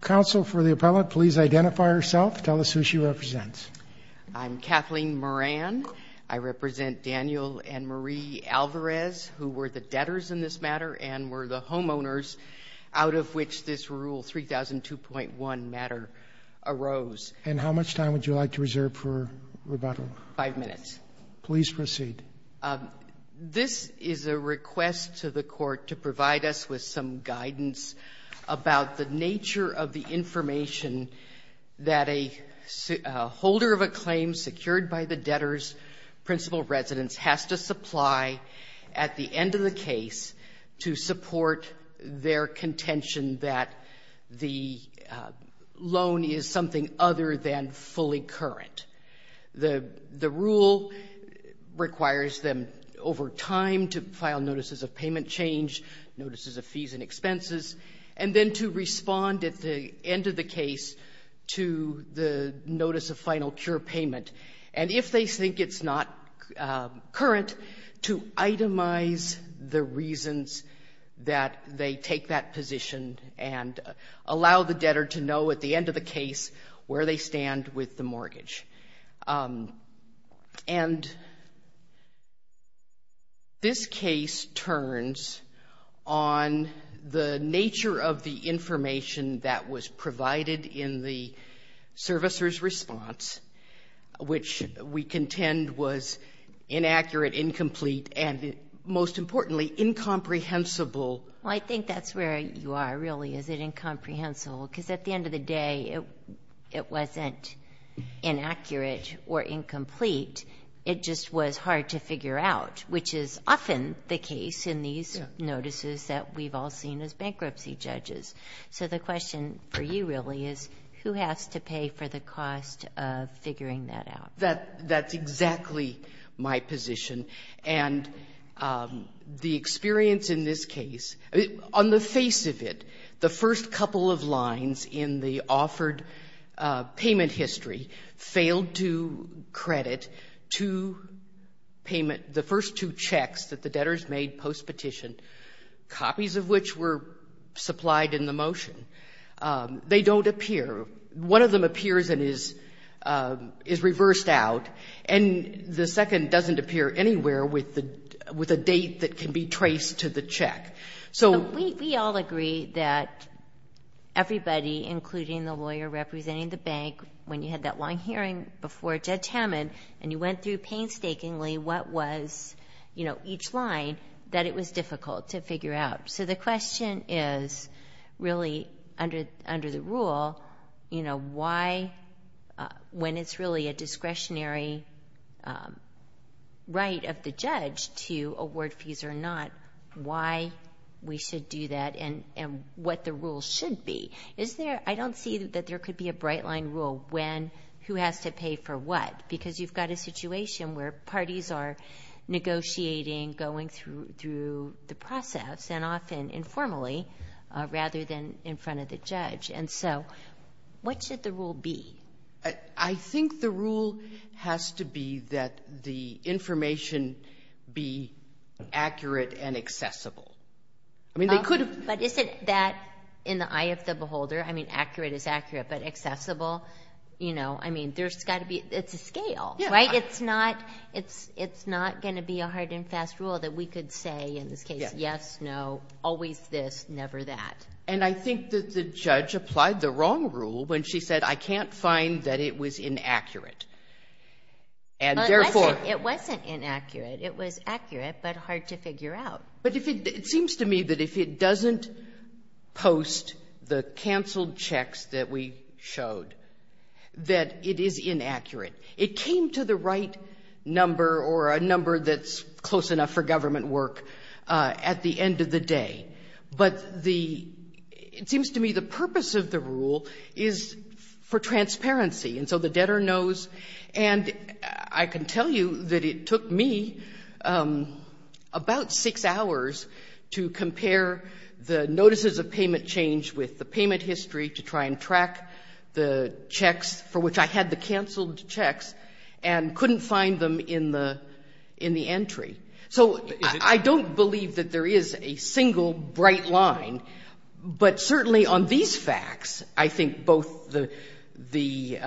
Council, for the appellate, please identify herself, tell us who she represents. I'm Kathleen Moran. I represent Daniel and Marie Alvarez, who were the debtors in this matter, and were the homeowners out of which this Rule 3002.1 matter arose. And how much time would you like to reserve for rebuttal? Five minutes. Please proceed. This is a request to the Court to provide us with some guidance about the nature of the information that a holder of a claim secured by the debtor's principal residence has to supply at the end of the case to support their contention that the loan is something other than fully current. The rule requires them, over time, to file notices of payment change, notices of fees and expenses, and then to respond at the end of the case to the notice of final cure payment. And if they think it's not current, to itemize the reasons that they take that position and allow the debtor to know at the end of the case where they stand with the mortgage. And this case turns on the nature of the information that was provided in the servicer's response, which we contend was inaccurate, incomplete, and most importantly, incomprehensible. Well, I think that's where you are, really. Is it incomprehensible? Because at the end of the day, it wasn't inaccurate or incomplete. It just was hard to figure out, which is often the case in these notices that we've all seen as bankruptcy judges. So the question for you, really, is who has to pay for the cost of figuring that out? That's exactly my position. And the experience in this case, on the face of it, the first couple of lines in the offered payment history failed to credit two payment the first two checks that the debtors made postpetition, copies of which were supplied in the motion. They don't appear. One of them appears and is reversed out, and the second doesn't appear anywhere with a date that can be traced to the check. So we all agree that everybody, including the lawyer representing the bank, when you had that long hearing before Judge Hammond, and you went through painstakingly what was each line, that it was difficult to figure out. So the question is, really, under the rule, why, when it's really a discretionary right of the judge to award fees or not, why we should do that and what the rule should be? I don't see that there could be a bright-line rule, when, who has to pay for what, because you've got a situation where parties are negotiating, going through the process, and often informally, rather than in front of the judge. And so what should the rule be? I think the rule has to be that the information be accurate and accessible. But isn't that, in the eye of the beholder, I mean, accurate is accurate, but accessible, you know, I mean, there's got to be, it's a scale, right? It's not going to be a hard and fast rule that we could say, in this case, yes, no, always this, never that. And I think that the judge applied the wrong rule when she said, I can't find that it was inaccurate. But it wasn't inaccurate. It was accurate, but hard to figure out. But it seems to me that if it doesn't post the canceled checks that we showed, that it is inaccurate. It came to the right number or a number that's close enough for government work at the end of the day. But the, it seems to me the purpose of the rule is for transparency. And so the debtor knows. And I can tell you that it took me about six hours to compare the notices of payment change with the payment history to try and track the checks for which I had the canceled checks and couldn't find them in the entry. So I don't believe that there is a single bright line. But certainly on these facts, I think both the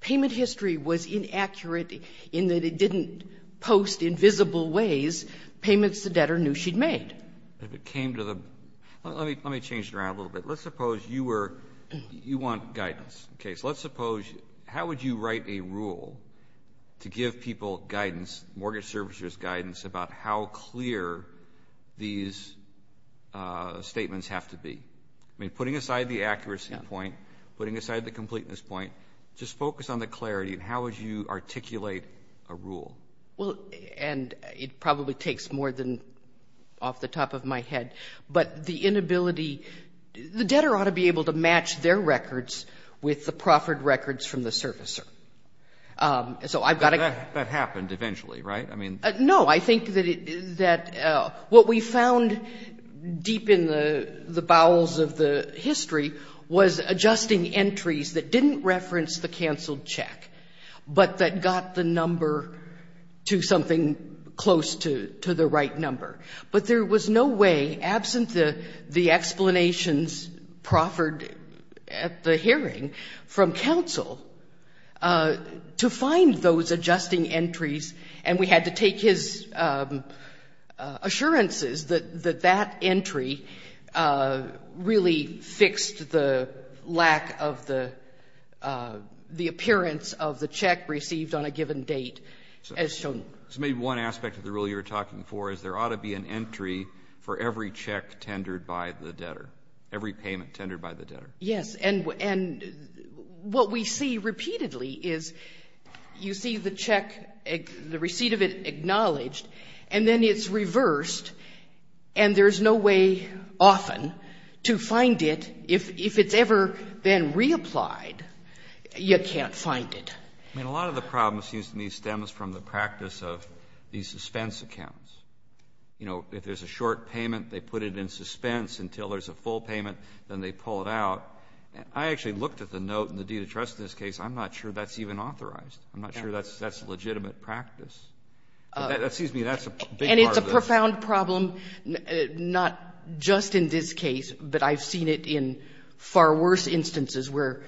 payment history was inaccurate in that it didn't post in visible ways payments the debtor knew she'd made. If it came to the, let me change it around a little bit. Let's suppose you were, you want guidance. Okay, so let's suppose, how would you write a rule to give people guidance, mortgage servicers guidance about how clear these statements have to be? I mean, putting aside the accuracy point, putting aside the completeness point, just focus on the clarity and how would you articulate a rule? Well, and it probably takes more than off the top of my head. But the inability, the debtor ought to be able to match their records with the proffered records from the servicer. So I've got to go. But that happened eventually, right? No, I think that what we found deep in the bowels of the history was adjusting entries that didn't reference the canceled check, but that got the number to something close to the right number. But there was no way, absent the explanations proffered at the hearing from counsel, to find those adjusting entries, and we had to take his assurances that that entry really fixed the lack of the appearance of the check received on a given date as shown. So maybe one aspect of the rule you were talking for is there ought to be an entry for every check tendered by the debtor, every payment tendered by the debtor. Yes, and what we see repeatedly is you see the check, the receipt of it acknowledged, and then it's reversed, and there's no way often to find it. If it's ever been reapplied, you can't find it. I mean, a lot of the problem seems to me stems from the practice of these suspense accounts. You know, if there's a short payment, they put it in suspense until there's a full payment, then they pull it out. I actually looked at the note in the deed of trust in this case. I'm not sure that's even authorized. I'm not sure that's legitimate practice. Excuse me, that's a big part of this. And it's a profound problem, not just in this case, but I've seen it in far worse instances where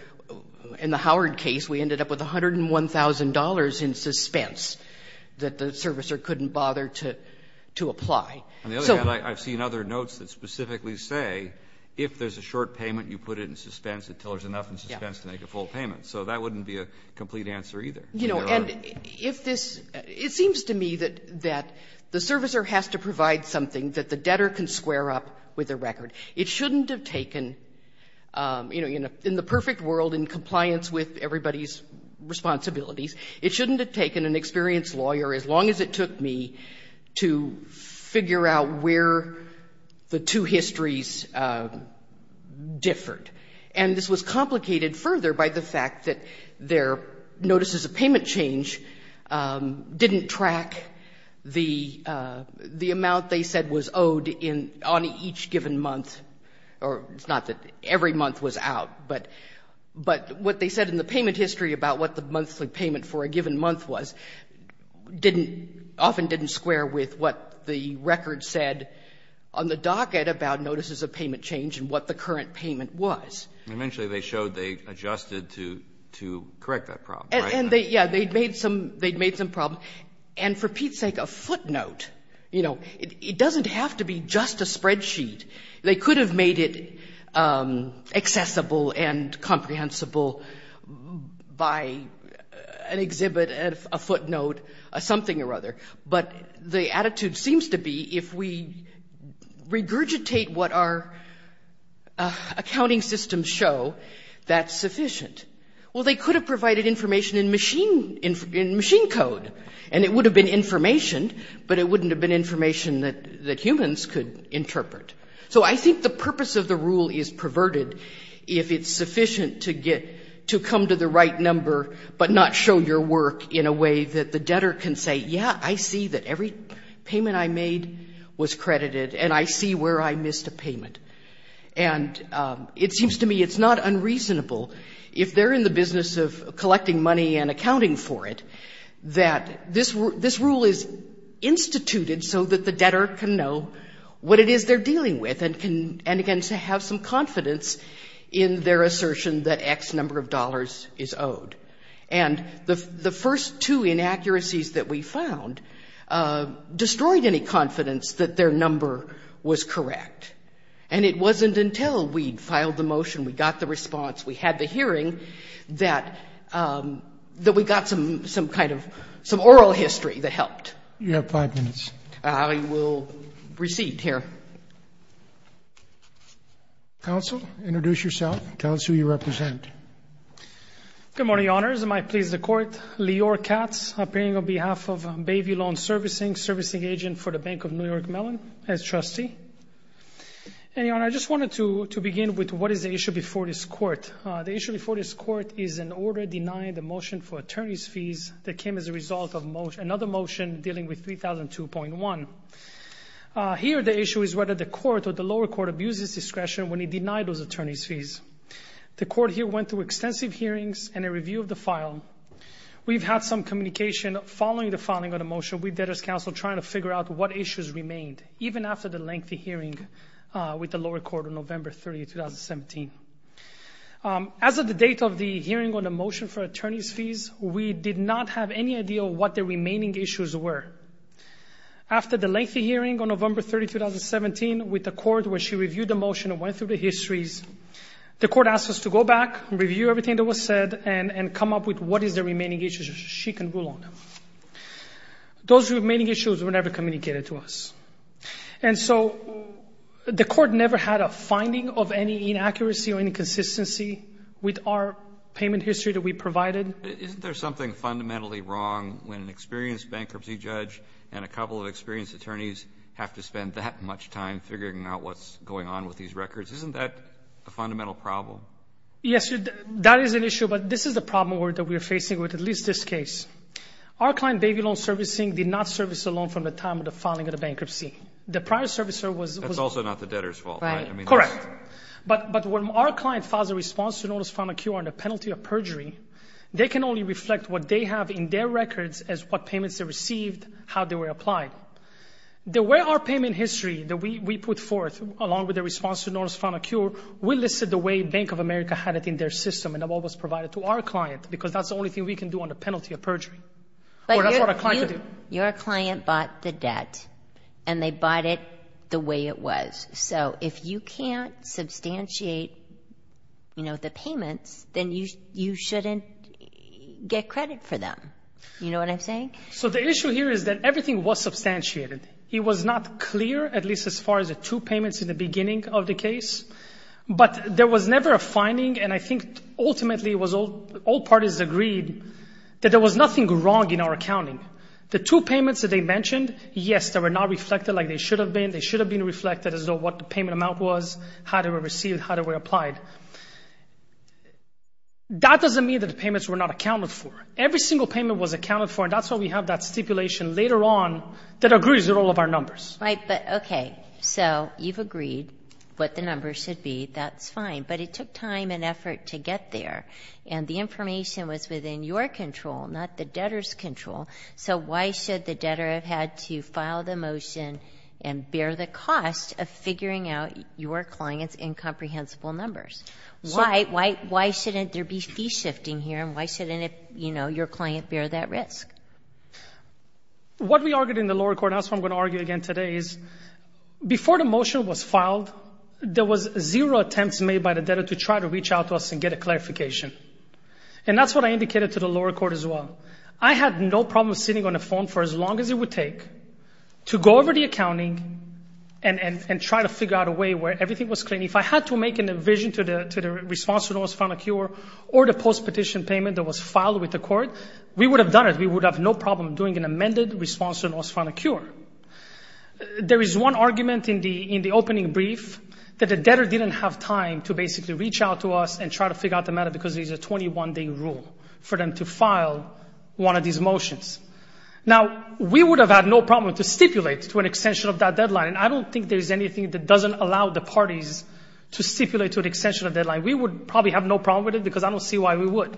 in the Howard case we ended up with $101,000 in suspense that the servicer couldn't bother to apply. On the other hand, I've seen other notes that specifically say if there's a short payment, you put it in suspense until there's enough in suspense to make a full payment. So that wouldn't be a complete answer either. You know, and if this — it seems to me that the servicer has to provide something that the debtor can square up with the record. It shouldn't have taken, you know, in the perfect world in compliance with everybody's responsibilities, it shouldn't have taken an experienced lawyer, as long as it took me, to figure out where the two histories differed. And this was complicated further by the fact that their notices of payment change didn't track the amount they said was owed on each given month, or it's not that every month was out, but what they said in the payment history about what the monthly payment for a given month was often didn't square with what the record said on the month was. Eventually they showed they adjusted to correct that problem, right? And they, yeah, they'd made some problems. And for Pete's sake, a footnote, you know, it doesn't have to be just a spreadsheet. They could have made it accessible and comprehensible by an exhibit, a footnote, something or other. But the attitude seems to be if we regurgitate what our accounting systems show, that's sufficient. Well, they could have provided information in machine code, and it would have been information, but it wouldn't have been information that humans could interpret. So I think the purpose of the rule is perverted if it's sufficient to come to the right number but not show your work in a way that the debtor can say, yeah, I see that every payment I made was credited, and I see where I missed a payment. And it seems to me it's not unreasonable if they're in the business of collecting money and accounting for it that this rule is instituted so that the debtor can know what it is they're dealing with and can, again, have some confidence in their And the first two inaccuracies that we found destroyed any confidence that their number was correct. And it wasn't until we filed the motion, we got the response, we had the hearing that we got some kind of oral history that helped. You have five minutes. I will recede here. Counsel, introduce yourself. Tell us who you represent. Good morning, Your Honors. It might please the Court. Lior Katz, appearing on behalf of Bayview Loan Servicing, servicing agent for the Bank of New York Mellon as trustee. And, Your Honor, I just wanted to begin with what is the issue before this Court. The issue before this Court is an order denying the motion for attorney's fees that came as a result of another motion dealing with 3002.1. Here the issue is whether the Court or the lower court abuses discretion when it denied those attorney's fees. The Court here went through extensive hearings and a review of the file. We've had some communication following the filing of the motion. We did, as counsel, try to figure out what issues remained, even after the lengthy hearing with the lower court on November 30, 2017. As of the date of the hearing on the motion for attorney's fees, we did not have any idea what the remaining issues were. After the lengthy hearing on November 30, 2017, with the court where she reviewed the motion and went through the histories, the court asked us to go back and review everything that was said and come up with what is the remaining issues so she can rule on them. Those remaining issues were never communicated to us. And so the court never had a finding of any inaccuracy or inconsistency with our payment history that we provided. Isn't there something fundamentally wrong when an experienced bankruptcy judge and a couple of experienced attorneys have to spend that much time figuring out what's going on with these records? Isn't that a fundamental problem? Yes. That is an issue. But this is the problem that we are facing with at least this case. Our client, Babylone Servicing, did not service a loan from the time of the filing of the bankruptcy. The prior servicer was— That's also not the debtor's fault, right? Right. Correct. But when our client files a response to notice from a QR on the penalty of perjury, they can only reflect what they have in their records as what payments they received, how they were applied. The way our payment history that we put forth, along with the response to notice from a QR, we listed the way Bank of America had it in their system and what was provided to our client, because that's the only thing we can do on the penalty of perjury. Or that's what a client can do. But your client bought the debt, and they bought it the way it was. So if you can't substantiate, you know, the payments, then you shouldn't get credit for them. You know what I'm saying? So the issue here is that everything was substantiated. It was not clear, at least as far as the two payments in the beginning of the case. But there was never a finding, and I think ultimately it was all—all parties agreed that there was nothing wrong in our accounting. The two payments that they mentioned, yes, they were not reflected like they should have been. They should have been reflected as though what the payment amount was, how they were received, how they were applied. That doesn't mean that the payments were not accounted for. Every single payment was accounted for, and that's why we have that stipulation later on that agrees with all of our numbers. Right, but okay. So you've agreed what the numbers should be. That's fine. But it took time and effort to get there, and the information was within your control, not the debtor's control. So why should the debtor have had to file the motion and bear the cost of figuring out your client's incomprehensible numbers? Why shouldn't there be fee shifting here, and why shouldn't, you know, your client bear that risk? What we argued in the lower court, and that's what I'm going to argue again today, is before the motion was filed, there was zero attempts made by the debtor to try to reach out to us and get a clarification. And that's what I indicated to the lower court as well. I had no problem sitting on the phone for as long as it would take to go over the accounting and try to figure out a way where everything was clean. And if I had to make a vision to the response to the NOS Final Cure or the post-petition payment that was filed with the court, we would have done it. We would have no problem doing an amended response to the NOS Final Cure. There is one argument in the opening brief that the debtor didn't have time to basically reach out to us and try to figure out the matter because there's a 21-day rule for them to file one of these motions. Now, we would have had no problem to stipulate to an extension of that deadline, and I don't think there's anything that doesn't allow the parties to stipulate to an extension of that deadline. We would probably have no problem with it because I don't see why we would.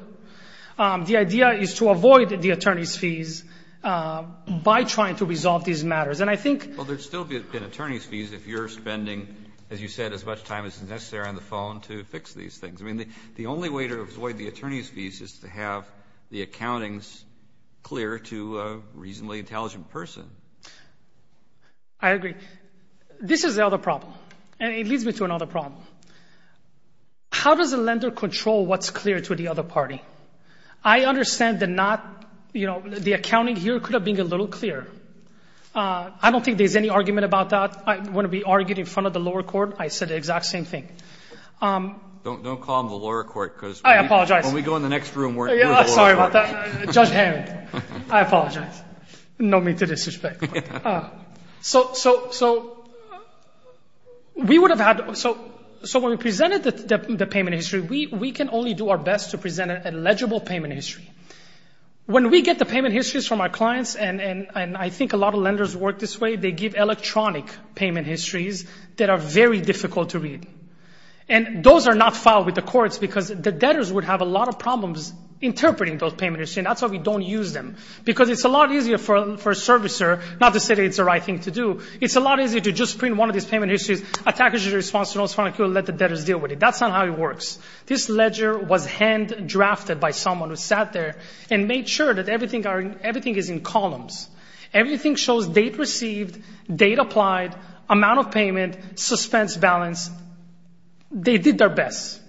The idea is to avoid the attorney's fees by trying to resolve these matters. And I think— Well, there'd still be an attorney's fees if you're spending, as you said, as much time as is necessary on the phone to fix these things. I mean, the only way to avoid the attorney's fees is to have the accountings clear to a reasonably intelligent person. I agree. This is the other problem, and it leads me to another problem. How does a lender control what's clear to the other party? I understand that not—you know, the accounting here could have been a little clearer. I don't think there's any argument about that. I wouldn't be arguing in front of the lower court. I said the exact same thing. Don't call them the lower court because— I apologize. When we go in the next room, we're the lower court. Sorry about that. Judge Hammond. I apologize. No need to disrespect. So we would have had—so when we presented the payment history, we can only do our best to present an illegible payment history. When we get the payment histories from our clients, and I think a lot of lenders work this way, they give electronic payment histories that are very difficult to read. And those are not filed with the courts because the debtors would have a lot of problems interpreting those payment histories, and that's why we don't use them. Because it's a lot easier for a servicer—not to say that it's the right thing to do. It's a lot easier to just print one of these payment histories, attack it as a response to an unsubstantiated claim, and let the debtors deal with it. That's not how it works. This ledger was hand-drafted by someone who sat there and made sure that everything is in columns. Everything shows date received, date applied, amount of payment, suspense, balance. They did their best.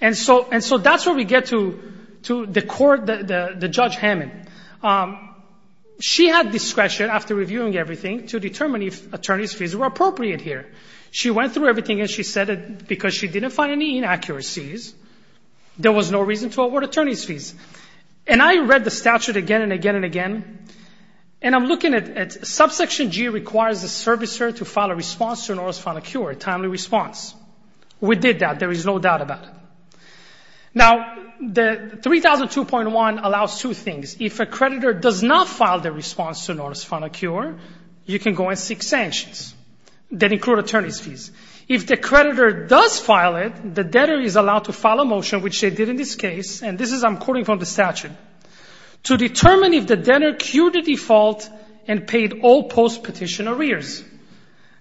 And so that's where we get to the court, the Judge Hammond. She had discretion after reviewing everything to determine if attorney's fees were appropriate here. She went through everything, and she said that because she didn't find any inaccuracies, there was no reason to award attorney's fees. And I read the statute again and again and again, and I'm looking at subsection G requires the servicer to file a response to an orders for a timely response. We did that. There is no doubt about it. Now, the 3002.1 allows two things. If a creditor does not file the response to an orders for a final cure, you can go and seek sanctions. They include attorney's fees. If the creditor does file it, the debtor is allowed to file a motion, which they did in this case, and this is, I'm quoting from the statute, to determine if the debtor cured the default and paid all post-petition arrears.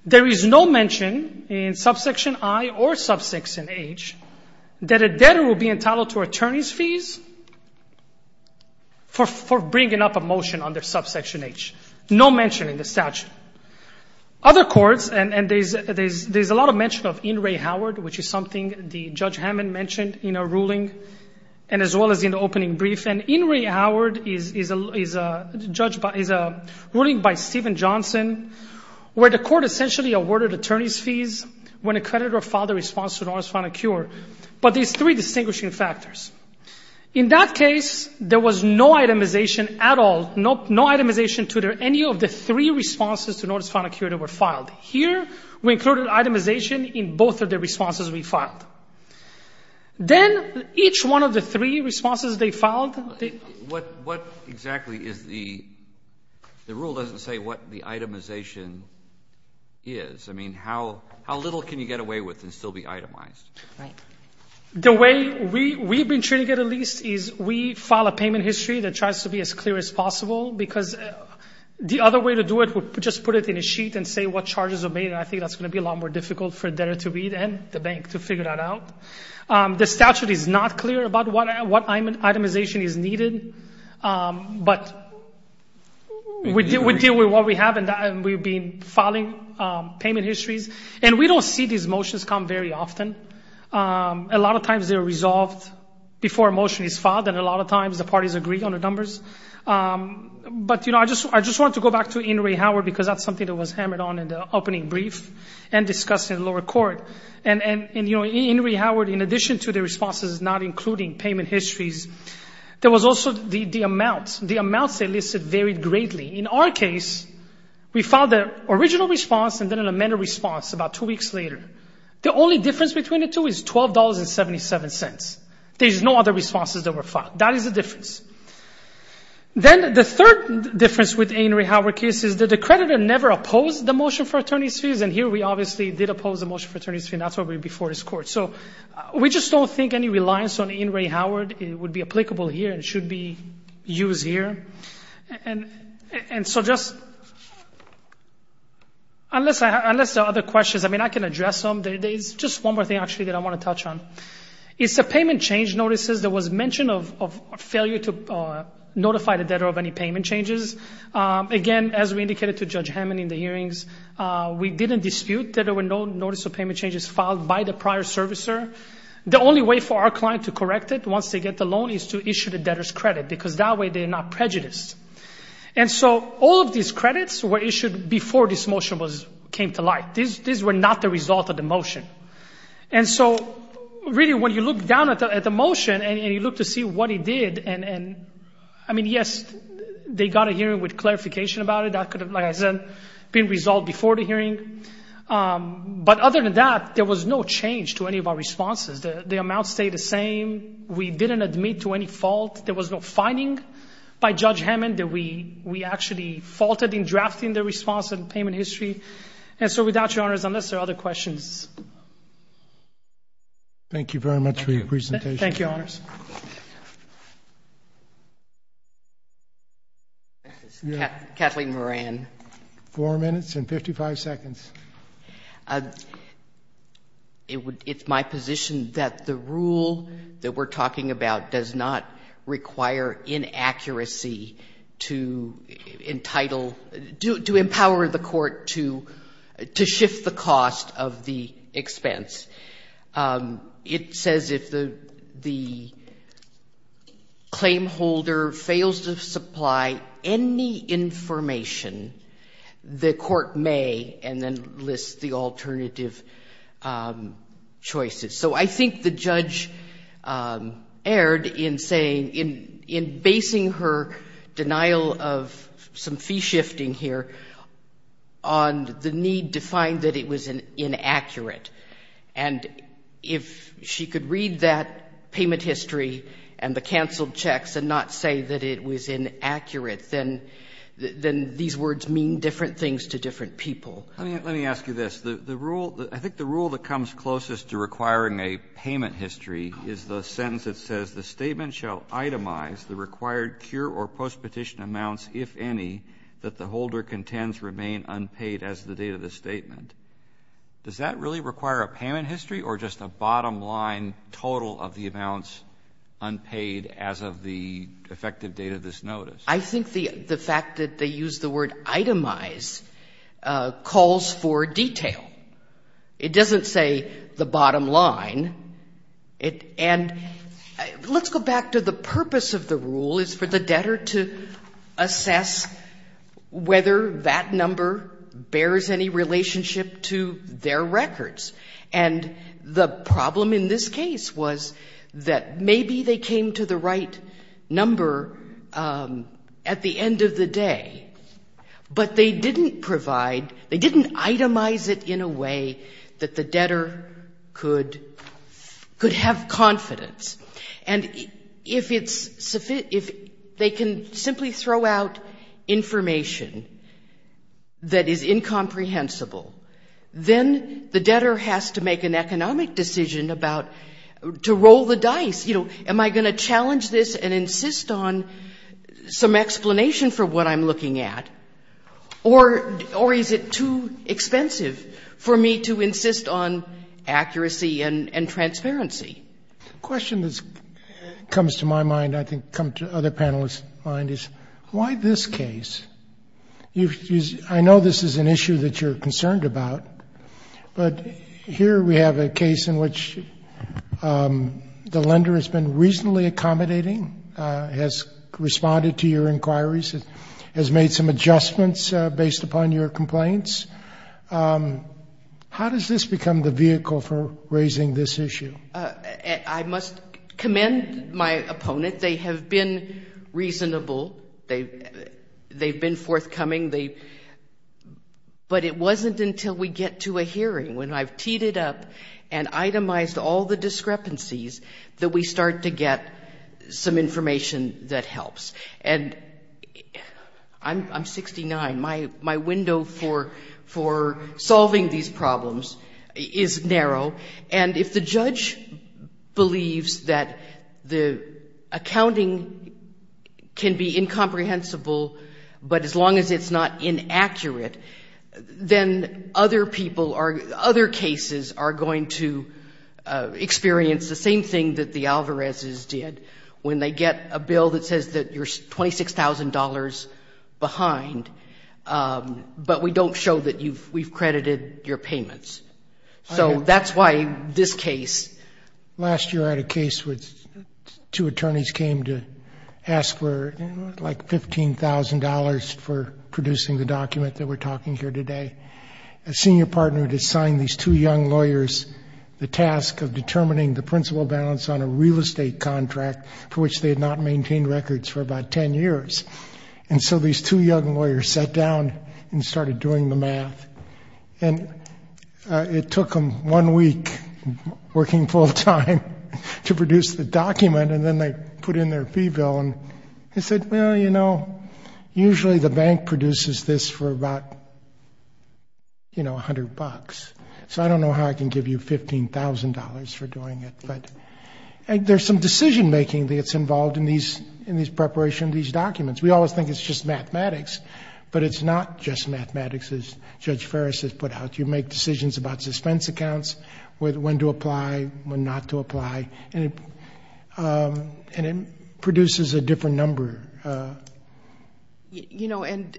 There is no mention in subsection I or subsection H that a debtor will be entitled to attorney's fees for bringing up a motion under subsection H. No mention in the statute. Other courts, and there's a lot of mention of In re Howard, which is something the Judge Hammond mentioned in a ruling and as well as in the opening brief, and In re Howard is a ruling by Stephen Johnson where the court essentially awarded attorney's fees when a creditor filed a response to an orders for a final cure. But there's three distinguishing factors. In that case, there was no itemization at all, no itemization to any of the three responses to an orders for a final cure that were filed. Here, we included itemization in both of the responses we filed. Then, each one of the three responses they filed, they — What exactly is the — the rule doesn't say what the itemization is. I mean, how little can you get away with and still be itemized? Right. The way we've been treating it at least is we file a payment history that tries to be as clear as possible because the other way to do it would just put it in a sheet and say what charges are made, and I think that's going to be a lot more difficult for debtor to read and the bank to figure that out. The statute is not clear about what itemization is needed, but we deal with what we have and we've been filing payment histories. And we don't see these motions come very often. A lot of times they're resolved before a motion is filed, and a lot of times the parties agree on the numbers. But, you know, I just want to go back to Inouye Howard because that's something that was hammered on in the opening brief and discussed in the lower court. And, you know, Inouye Howard, in addition to the responses not including payment histories, there was also the amounts. The amounts they listed varied greatly. In our case, we filed the original response and then an amended response about two weeks later. The only difference between the two is $12.77. There's no other responses that were filed. That is the difference. Then the third difference with Inouye Howard case is that the creditor never opposed the motion for attorney's fees, and here we obviously did oppose the motion for attorney's fees, and that's why we're before this court. So we just don't think any reliance on Inouye Howard would be applicable here and should be used here. And so just unless there are other questions, I mean, I can address them. There is just one more thing, actually, that I want to touch on. It's the payment change notices. There was mention of failure to notify the debtor of any payment changes. Again, as we indicated to Judge Hammond in the hearings, we didn't dispute that there were no notice of payment changes filed by the prior servicer. The only way for our client to correct it once they get the loan is to issue the debtor's credit because that way they're not prejudiced. And so all of these credits were issued before this motion came to light. These were not the result of the motion. And so really when you look down at the motion and you look to see what it did, and I mean, yes, they got a hearing with clarification about it. That could have, like I said, been resolved before the hearing. But other than that, there was no change to any of our responses. The amounts stayed the same. We didn't admit to any fault. There was no finding by Judge Hammond that we actually faulted in drafting the response and payment history. And so without Your Honors, unless there are other questions. Thank you very much for your presentation. Thank you, Your Honors. Kathleen Moran. Four minutes and 55 seconds. It's my position that the rule that we're talking about does not require inaccuracy to entitle, to empower the court to shift the cost of the expense. It says if the claim holder fails to supply any information, the court may, and then lists the alternative choices. So I think the judge erred in saying, in basing her denial of some fee shifting here on the need to find that it was inaccurate. And if she could read that payment history and the canceled checks and not say that it was inaccurate, then these words mean different things to different people. Let me ask you this. I think the rule that comes closest to requiring a payment history is the sentence that says the statement shall itemize the required cure or postpetition amounts, if any, that the holder contends remain unpaid as the date of the statement. Does that really require a payment history or just a bottom line total of the amounts unpaid as of the effective date of this notice? I think the fact that they use the word itemize calls for detail. It doesn't say the bottom line. And let's go back to the purpose of the rule is for the debtor to assess whether that number bears any relationship to their records. And the problem in this case was that maybe they came to the right number at the end of the day, but they didn't provide, they didn't itemize it in a way that the debtor could have confidence. And if they can simply throw out information that is incomprehensible, then the debtor has to make an economic decision about to roll the dice. You know, am I going to challenge this and insist on some explanation for what I'm looking at, or is it too expensive for me to insist on accuracy and transparency? The question that comes to my mind, I think comes to other panelists' mind, is why this case? I know this is an issue that you're concerned about, but here we have a case in which the lender has been reasonably accommodating, has responded to your inquiries, has made some adjustments based upon your complaints. How does this become the vehicle for raising this issue? I must commend my opponent. They have been reasonable, they've been forthcoming, but it wasn't until we get to a hearing, when I've teed it up and itemized all the discrepancies, that we start to get some information that helps. And I'm 69. My window for solving these problems is narrow. And if the judge believes that the accounting can be incomprehensible, but as long as it's not inaccurate, then other people or other cases are going to experience the same thing that the Alvarezes did when they get a bill that says that you're $26,000 behind, but we don't show that we've credited your payments. So that's why this case. Last year I had a case where two attorneys came to ask for like $15,000 for producing the document that we're talking here today. A senior partner had assigned these two young lawyers the task of determining the principal balance on a real estate contract for which they had not maintained records for about ten years. And so these two young lawyers sat down and started doing the math, and it took them one week working full time to produce the document, and then they put in their fee bill and they said, well, you know, usually the bank produces this for about, you know, $100. So I don't know how I can give you $15,000 for doing it. But there's some decision-making that's involved in the preparation of these documents. We always think it's just mathematics, but it's not just mathematics, as Judge Ferris has put out. You make decisions about suspense accounts, when to apply, when not to apply, and it produces a different number. You know, and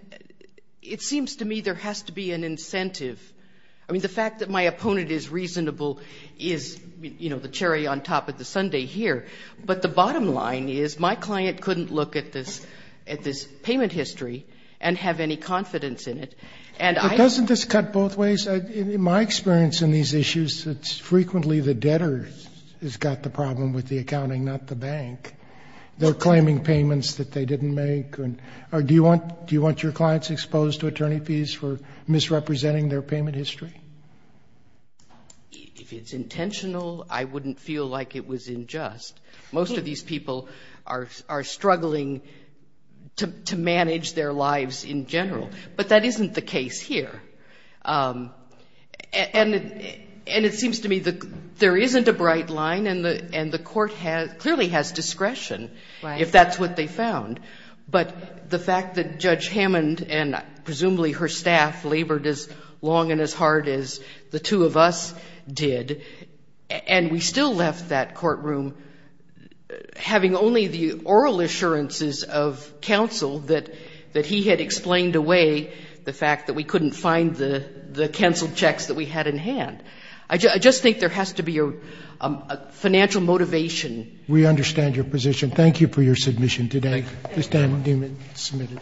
it seems to me there has to be an incentive. I mean, the fact that my opponent is reasonable is, you know, the cherry on top of the sundae here. But the bottom line is my client couldn't look at this payment history and have any confidence in it. But doesn't this cut both ways? In my experience in these issues, it's frequently the debtor who's got the problem with the accounting, not the bank. They're claiming payments that they didn't make. Or do you want your clients exposed to attorney fees for misrepresenting their payment history? If it's intentional, I wouldn't feel like it was unjust. Most of these people are struggling to manage their lives in general. But that isn't the case here. And it seems to me there isn't a bright line, and the court clearly has discretion if that's what they found. But the fact that Judge Hammond and presumably her staff labored as long and as hard as the two of us did and we still left that courtroom having only the oral assurances of counsel that he had explained away the fact that we couldn't find the canceled checks that we had in hand. I just think there has to be a financial motivation. We understand your position. Thank you for your submission today. Thank you. Ms. Diamond-Dumas is submitted.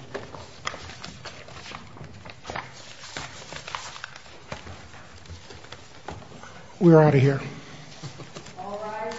We're out of here. All rise for the winner.